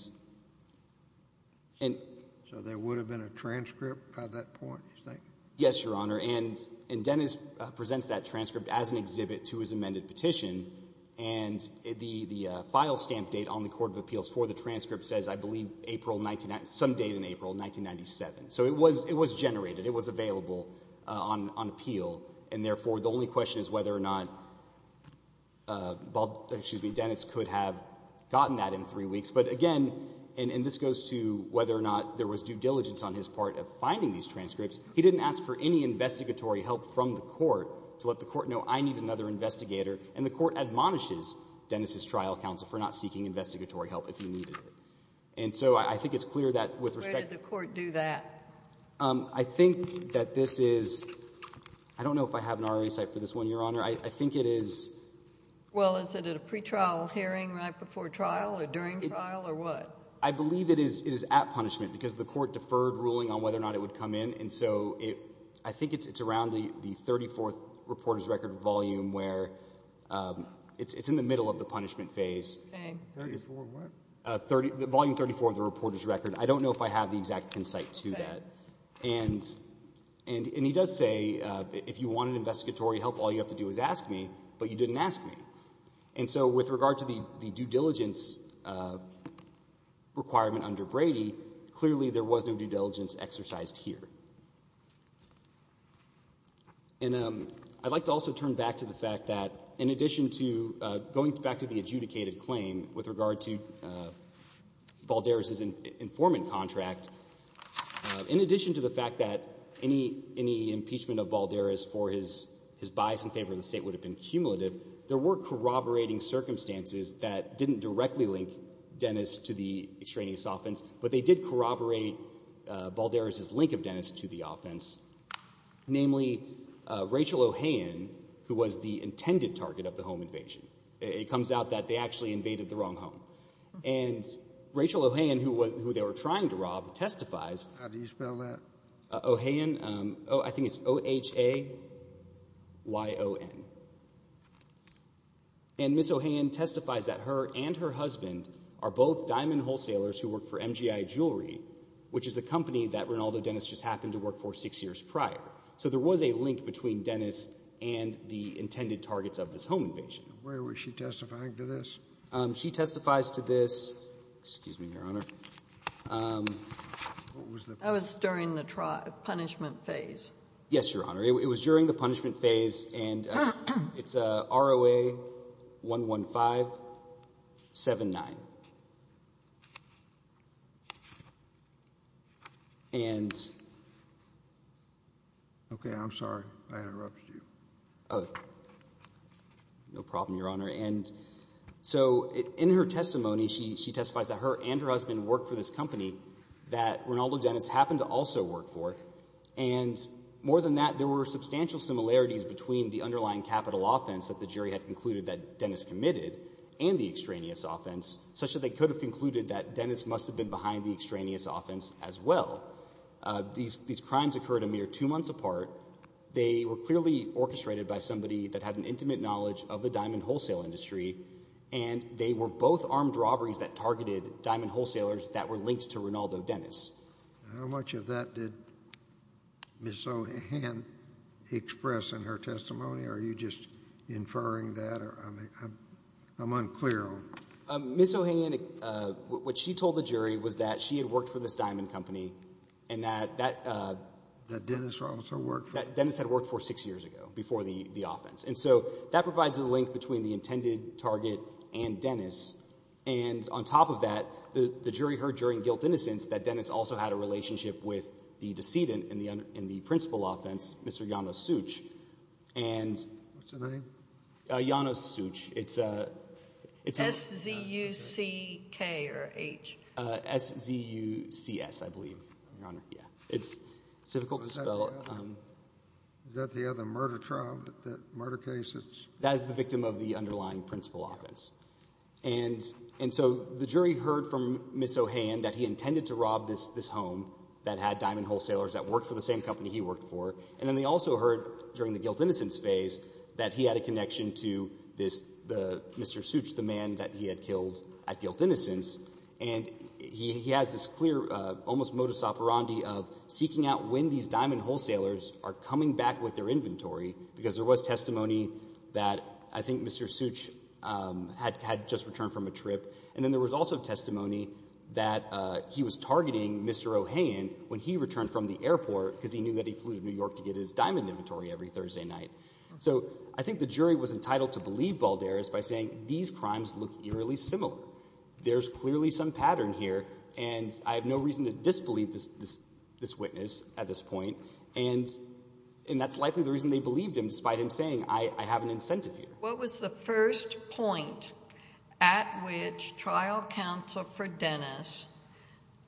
So there would have been a transcript by that point, you think? Yes, Your Honor. And Dennis presents that transcript as an exhibit to his amended petition. And the file stamp date on the Court of Appeals for the transcript says, I believe, some date in April 1997. So it was generated. It was available on appeal. And therefore, the only question is whether or not Dennis could have gotten that in three weeks. But again, and this goes to whether or not there was due diligence on his part of finding these transcripts. He didn't ask for any investigatory help from the court to let the court know, I need another investigator. And the court admonishes Dennis' trial counsel for not seeking investigatory help if he needed it. And so I think it's clear that with respect... Where did the court do that? I think that this is... I don't know if I have an RRA cite for this one, Your Honor. I think it is... Well, is it at a pretrial hearing right before trial or during trial or what? I believe it is at punishment because the court deferred ruling on whether or not it would come in. And so I think it's around the 34th reporter's record volume where it's in the middle of the punishment phase. Volume 34 of the reporter's record. I don't know if I have the exact concite to that. And he does say if you wanted investigatory help, all you have to do is ask me, but you didn't ask me. And so with regard to the due diligence requirement under Brady, clearly there was no due diligence exercised here. And I'd like to also turn back to the fact that in addition to going back to the adjudicated claim with regard to Valderez's informant contract, in addition to the fact that any impeachment of Valderez for his bias in favor of the State would have been cumulative, there were corroborating circumstances that didn't directly link Dennis to the extraneous offense, but they did corroborate Valderez's link of Dennis to the offense, namely Rachel Ohayon who was the intended target of the home invasion. It comes out that they actually invaded the wrong home. And Rachel Ohayon, who they were trying to rob, testifies. How do you spell that? Ohayon. I think it's O-H-A-Y-O-N. And Ms. Ohayon testifies that her and her husband are both diamond wholesalers who work for MGI Jewelry, which is a company that Rinaldo Dennis just happened to work for six years prior. So there was a link between Dennis and the intended targets of this home invasion. Where was she testifying to this? She testifies to this. Excuse me, Your Honor. That was during the punishment phase. Yes, Your Honor. It was during the punishment phase and it's R-O-A-1-1-5-7-9. And... Okay, I'm sorry. I interrupted you. No problem, Your Honor. So in her testimony, she testifies that her and her husband work for this company that Rinaldo Dennis happened to also work for. And more than that, there were substantial similarities between the underlying capital offense that the jury had concluded that Dennis committed and the extraneous offense, such that they could have concluded that Dennis must have been behind the extraneous offense as well. These crimes occurred a mere two months apart. They were clearly orchestrated by somebody that had an intimate knowledge of the diamond wholesale industry. And they were both armed robberies that targeted diamond wholesalers that were linked to Rinaldo Dennis. How much of that did Ms. Ohan express in her testimony? Are you just inferring that? I'm unclear on that. Ms. Ohan, what she told the jury was that she had worked for this diamond company and that... That Dennis also worked for. That Dennis had worked for six years ago before the offense. And so that provides a link between the intended target and Dennis. And on top of that, the jury heard during guilt innocence that Dennis also had a relationship with the decedent in the principal offense, Mr. Janos Such. What's the name? Janos Such. S-Z-U-C-K or H. S-Z-U-C-S, I believe, Your Honor. It's difficult to spell. Is that the other murder trial, that murder case? That is the victim of the underlying principal offense. And so the jury heard from Ms. Ohan that he intended to rob this home that had diamond wholesalers that worked for the same company he worked for. And then they also heard during the guilt innocence phase that he had a connection to Mr. Such, the man that he had killed at guilt innocence. And he has this clear, almost modus operandi of seeking out when these diamond wholesalers are coming back with their inventory, because there was testimony that I think Mr. Such had just returned from a trip. And then there was also testimony that he was targeting Mr. Ohan when he returned from the airport because he knew that he flew to New York to get his diamond inventory every Thursday night. So I think the jury was entitled to believe Balderas by saying these crimes look eerily similar. There's clearly some pattern here. And I have no reason to disbelieve this witness at this point. And that's likely the reason they believed him, despite him saying, I have an incentive here. What was the first point at which trial counsel for Dennis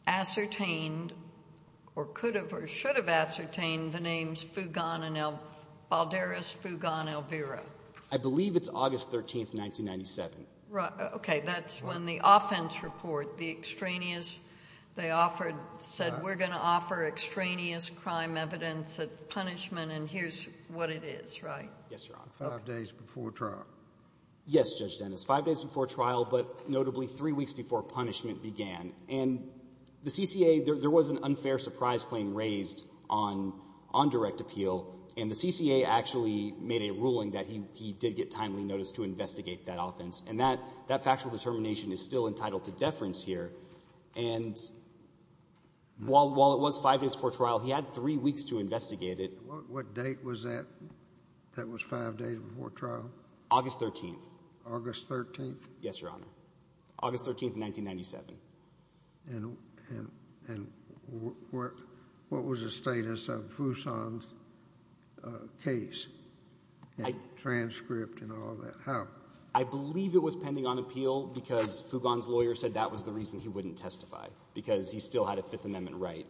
ascertained or could have or should have ascertained the names Fugan and Balderas Fugan Elvira? I believe it's August 13, 1997. Right. Okay. That's when the offense report, the extraneous they offered, said we're going to offer extraneous crime evidence at punishment, and here's what it is. Right? Yes, Your Honor. Five days before trial. Yes, Judge Dennis. Five days before trial, but notably three weeks before punishment began. And the CCA, there was an unfair surprise claim raised on direct appeal, and the CCA actually made a ruling that he did get timely notice to investigate that offense. And that factual determination is still entitled to deference here. And while it was five days before trial, he had three weeks to investigate it. What date was that, that was five days before trial? August 13. August 13? Yes, Your Honor. August 13, 1997. And what was the status of Fuson's case and transcript and all that? I believe it was pending on appeal because Fugon's lawyer said that was the reason he wouldn't testify, because he still had a Fifth Amendment right.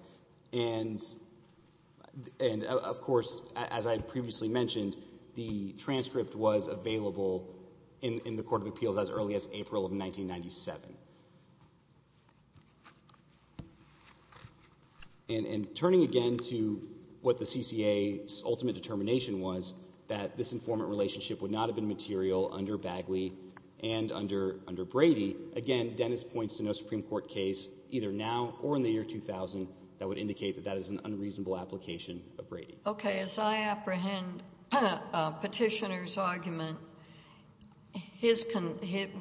And of course, as I previously mentioned, the transcript was available in the Court of Appeals as early as April of 1997. And turning again to what the CCA's ultimate determination was, that this informant relationship would not have been material under Bagley and under Brady, again, Dennis points to no Supreme Court case, either now or in the year 2000, that would indicate that that is an unreasonable application of Brady. Okay. As I apprehend Petitioner's argument,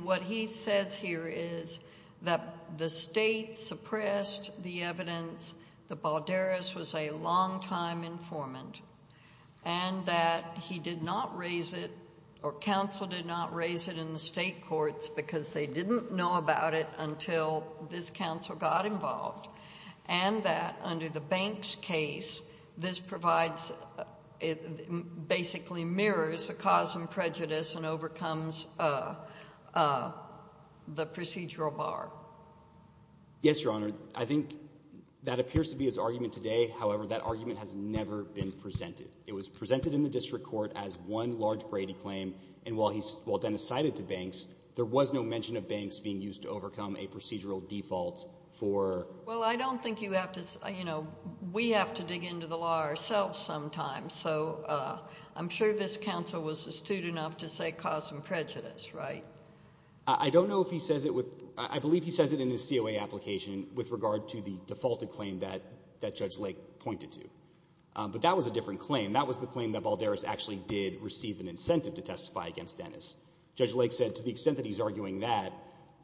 what he says here is that the State suppressed the evidence that Balderas was a longtime informant and that he did not raise it or counsel did not raise it in the State courts because they didn't know about it until this counsel got involved, and that under the Banks case, this provides basically mirrors the cause and prejudice and overcomes the procedural bar. Yes, Your Honor. I think that appears to be his argument today. However, that argument has never been presented. It was presented in the district court as one large Brady claim, and while Dennis cited to Banks, there was no mention of Banks being used to overcome a procedural default for... Well, I don't think you have to... You know, we have to dig into the law ourselves sometimes. So I'm sure this counsel was astute enough to say cause and prejudice, right? I don't know if he says it with... I believe he says it in his COA application with regard to the defaulted claim that Judge Lake pointed to. But that was a different claim. That was the claim that Balderas actually did receive an incentive to testify against Dennis. Judge Lake said to the extent that he's arguing that,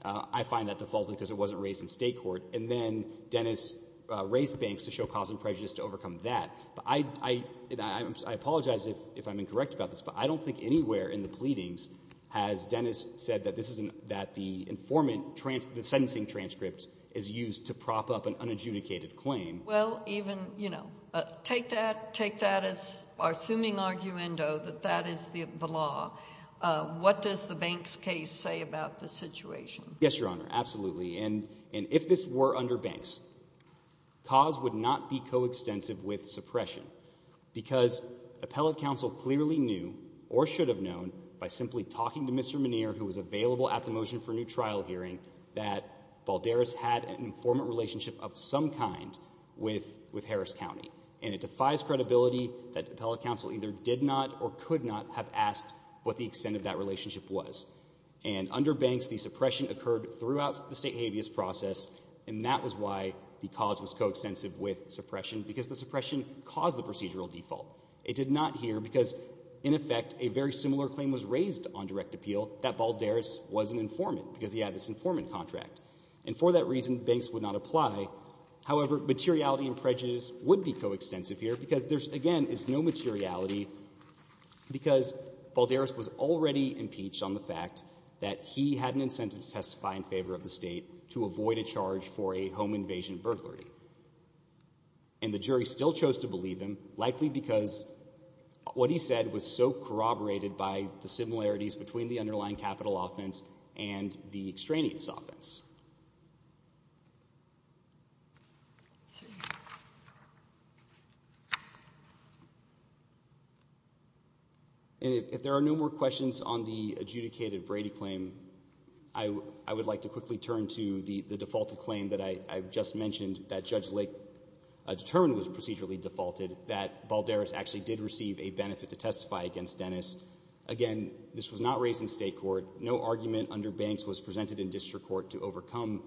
I find that defaulted because it wasn't raised in State court. And then Dennis raised Banks to show cause and prejudice to overcome that. I apologize if I'm incorrect about this, but I don't think anywhere in the pleadings has Dennis said that this isn't... that the informant... the sentencing transcript is used to prop up an unadjudicated claim. Well, even, you know, take that... take that as our assuming arguendo that that is the law. What does the Banks case say about the situation? Yes, Your Honor, absolutely. And if this were under Banks, cause would not be coextensive with suppression because appellate counsel clearly knew or should have known by simply talking to Mr. Muneer, who was available at the Motion for New Trial hearing, that Balderas had an informant relationship of some kind with Harris County. And it defies credibility that appellate counsel either did not or could not have asked what the extent of that relationship was. And under Banks, the suppression occurred throughout the State habeas process and that was why the cause was coextensive with suppression because the suppression caused the procedural default. It did not here because, in effect, a very similar claim was raised on direct appeal that Balderas was an informant because he had this informant contract. And for that reason, Banks would not apply. However, materiality and prejudice would be coextensive here because there's, again, is no materiality because Balderas was already impeached on the fact that he had an incentive to testify in favor of the State to avoid a charge for a home invasion burglary. And the jury still chose to believe him, likely because what he said was so corroborated by the similarities between the underlying capital offense and the extraneous offense. And if there are no more questions on the adjudicated Brady claim, I would like to quickly turn to the defaulted claim that I just mentioned that Judge Lake determined was procedurally defaulted, that Balderas actually did receive a benefit to testify against Dennis. Again, this was not raised in State court. No argument under Banks was presented in district court to overcome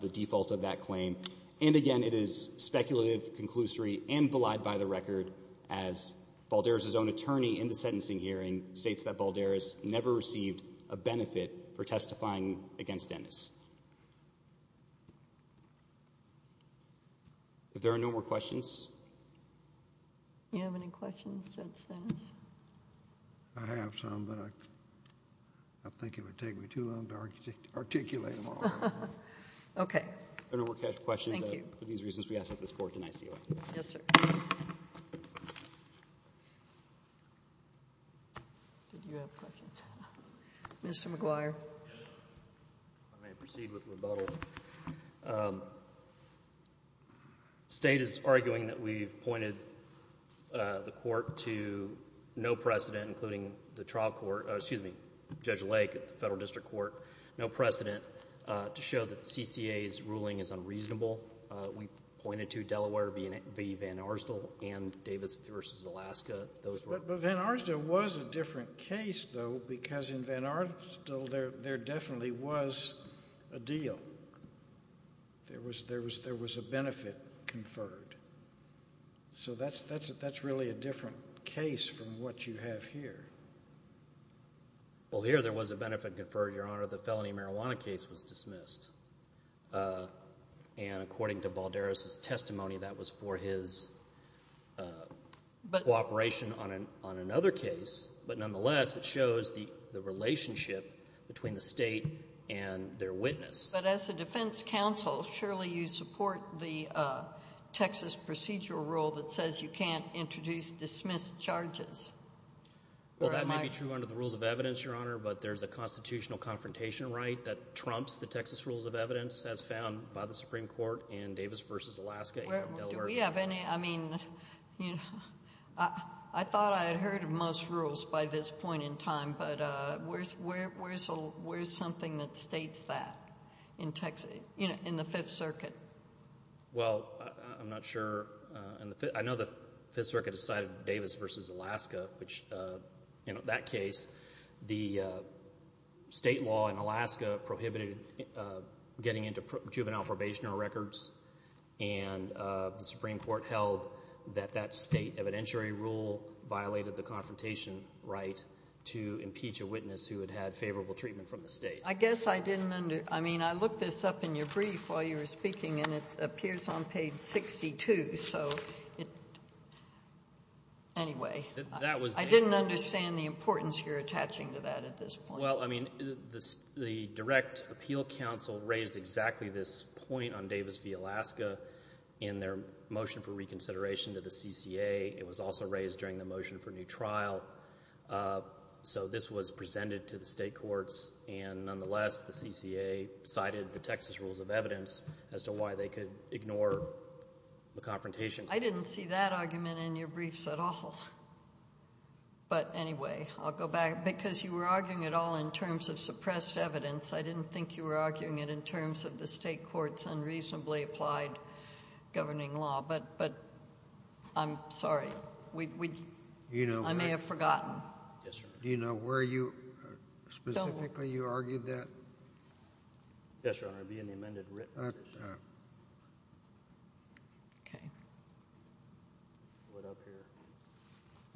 the default of that claim. And again, it is speculative, conclusory, and belied by the record as Balderas' own attorney in the sentencing hearing states that Balderas never received a benefit for testifying against Dennis. If there are no more questions. Do you have any questions, Judge Dennis? I have some, but I think it would take me too long to articulate them all. Okay. Thank you. For these reasons, we ask that this Court deny sealant. Yes, sir. Did you have questions? Mr. McGuire. I may proceed with rebuttal. State is arguing that we've pointed the Court to no precedent, including the trial court, excuse me, Judge Lake at the Federal District Court, no precedent to show that the CCA's ruling is true. But Van Arsdal was a different case, though, because in Van Arsdal there definitely was a deal. There was a benefit conferred. So that's really a different case from what you have here. Well, here there was a benefit conferred, Your Honor. The felony marijuana case was dismissed. And according to Balderas' testimony, that was for his cooperation on another case. But nonetheless, it shows the relationship between the State and their witness. But as a defense counsel, surely you support the Texas procedural rule that says you can't introduce dismissed charges. Well, that may be true under the rules of evidence, Your Honor, but there's a constitutional confrontation right that trumps the Texas rules of evidence as found by the Supreme Court in Davis v. Alaska. Do we have any, I mean, I thought I had heard of most rules by this point in time, but where's something that states that in the Fifth Circuit? Well, I'm not sure. I know the Fifth Circuit decided Davis v. Alaska, which, in that case, the state law in Alaska prohibited getting into juvenile probationary records, and the Supreme Court held that that state evidentiary rule violated the confrontation right to impeach a witness who had had favorable treatment from the state. I guess I didn't under, I mean, I looked this up in your brief while you were speaking, and it appears on page 62, so it, anyway, I didn't understand the importance you're attaching to that at this point. Well, I mean, the direct appeal counsel raised exactly this point on Davis v. Alaska in their motion for reconsideration to the CCA. It was also raised during the motion for new trial, so this was presented to the state courts, and nonetheless, the CCA cited the Texas rules of evidence as to why they could I didn't see that argument in your briefs at all. But, anyway, I'll go back. Because you were arguing it all in terms of suppressed evidence, I didn't think you were arguing it in terms of the state courts unreasonably applied governing law, but I'm sorry. I may have forgotten. Do you know where you specifically argued that? Yes, Your Honor, it would be in the amended written. Okay.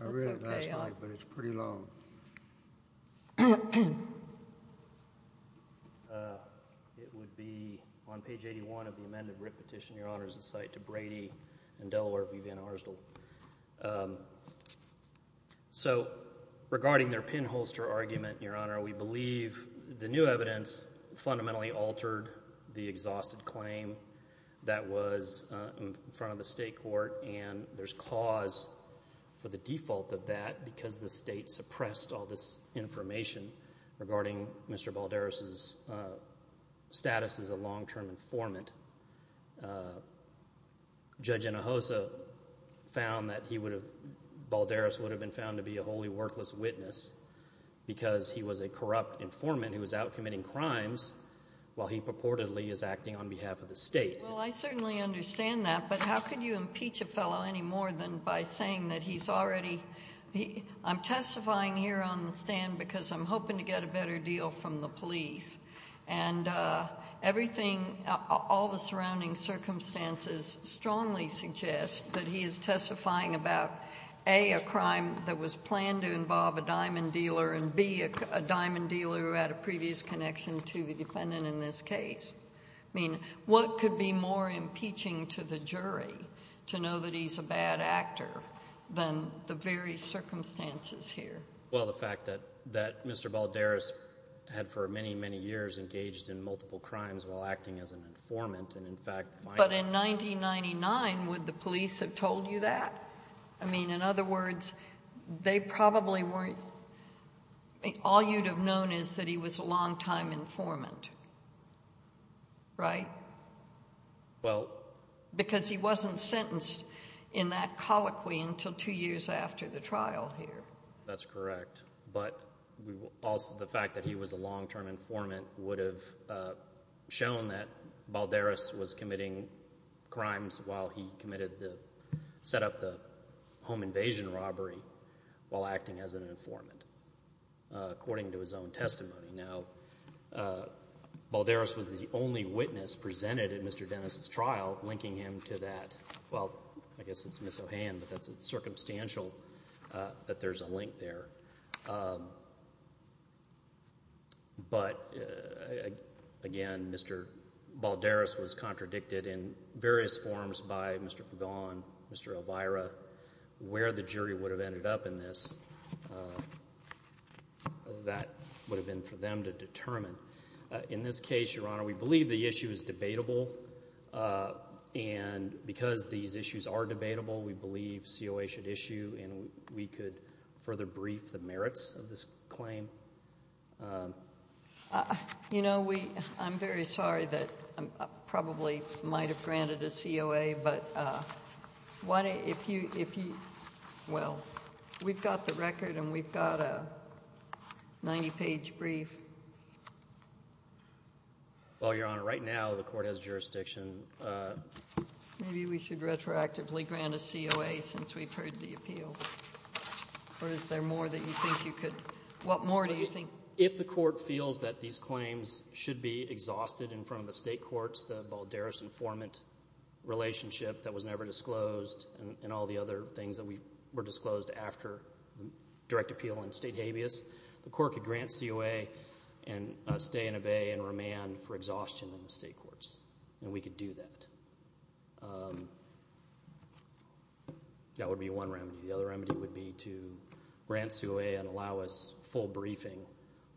I read it last night, but it's pretty long. It would be on page 81 of the amended written petition, Your Honor, as a cite to Brady and Delaware v. Van Arsdell. So, regarding their pinholster argument, Your Honor, we believe the new evidence fundamentally altered the exhausted claim that was in front of the state court, and there's cause for the default of that because the state suppressed all this information regarding Mr. Balderas' status as a long-term informant. Judge Inahosa found that Balderas would have been found to be a wholly worthless witness because he was a corrupt informant who was out committing crimes while he purportedly is acting on behalf of the state. Well, I certainly understand that, but how could you impeach a fellow any more than by saying that he's already I'm testifying here on the stand because I'm hoping to get a better deal from the police, and everything, all the surrounding circumstances strongly suggest that he is testifying about A, a crime that was planned to involve a diamond dealer, and B, a diamond dealer who had a previous connection to the defendant in this case. I mean, what could be more impeaching to the jury to know that he's a bad actor than the very circumstances here? Well, the fact that Mr. Balderas had for many, many years engaged in multiple crimes while acting as an informant, and in fact, finally But in 1999, would the police have told you that? I mean, in other words, they probably weren't All you'd have known is that he was a long-time informant, right? Well Because he wasn't sentenced in that colloquy until two years after the trial here. That's correct, but also the fact that he was a long-term informant would have shown that Balderas was committing crimes while he committed the, set up the home invasion robbery while acting as an informant according to his own testimony. Now, Balderas was the only witness presented at Mr. Dennis' trial linking him to that Well, I guess it's Ms. O'Han, but that's circumstantial that there's a link there But again, Mr. Balderas was contradicted in various forms by Mr. Fagon, Mr. Elvira where the jury would have ended up in this that would have been for them to determine In this case, Your Honor, we believe the issue is debatable and because these issues are debatable, we believe COA should issue and we could further brief the merits of this claim You know, we I'm very sorry that I probably might have granted a COA, but if you, well we've got the record and we've got a 90-page brief Well, Your Honor, right now the court has jurisdiction Maybe we should retroactively grant a COA since we've heard the appeal Or is there more that you think you could, what more do you think If the court feels that these claims should be exhausted in front of the state courts, the Balderas-Informant relationship that was never disclosed and all the other things that were disclosed after direct appeal and state habeas, the court could grant COA and stay and obey and remand for exhaustion in the state courts, and we could do that That would be one remedy The other remedy would be to grant COA and allow us full briefing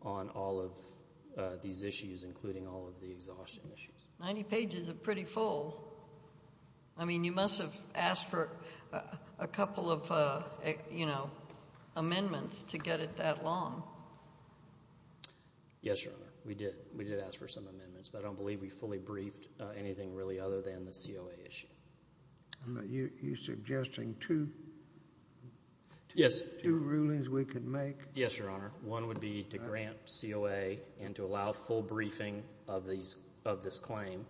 on all of these issues, including all of the exhaustion issues 90 pages is pretty full I mean, you must have asked for a couple of, you know, amendments to get it that long Yes, Your Honor, we did ask for some amendments, but I don't believe we fully briefed anything really other than the COA issue You're suggesting two rulings we could make? Yes, Your Honor, one would be to grant COA and to allow full briefing of this claim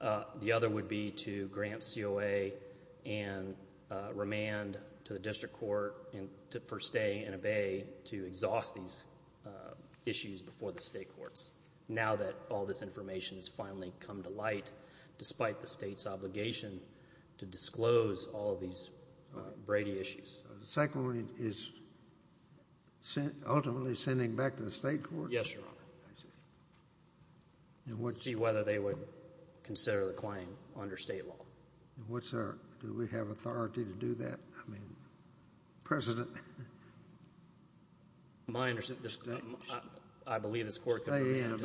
The other would be to grant COA and remand to the district court for stay and obey to exhaust these issues before the state courts, now that all this information has finally come to light, despite the state's obligation to disclose all of these Brady issues So the second ruling is ultimately sending back to the state courts? Yes, Your Honor To see whether they would consider the claim under state law Do we have authority to do that? I mean, President I believe this court could remand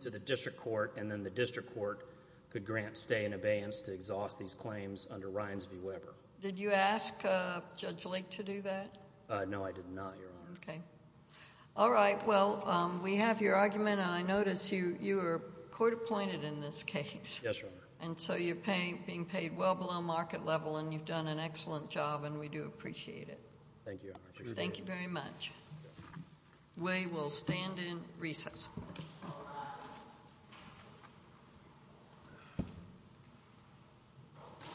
to the district court and then the district court could grant stay and abeyance to exhaust these claims under Ryans v. Weber Did you ask Judge Lake to do that? No, I did not, Your Honor All right, well, we have your argument and I notice you were court appointed in this case and so you're being paid well below market level and you've done an excellent job and we do appreciate it Thank you, Your Honor Thank you very much We will stand in recess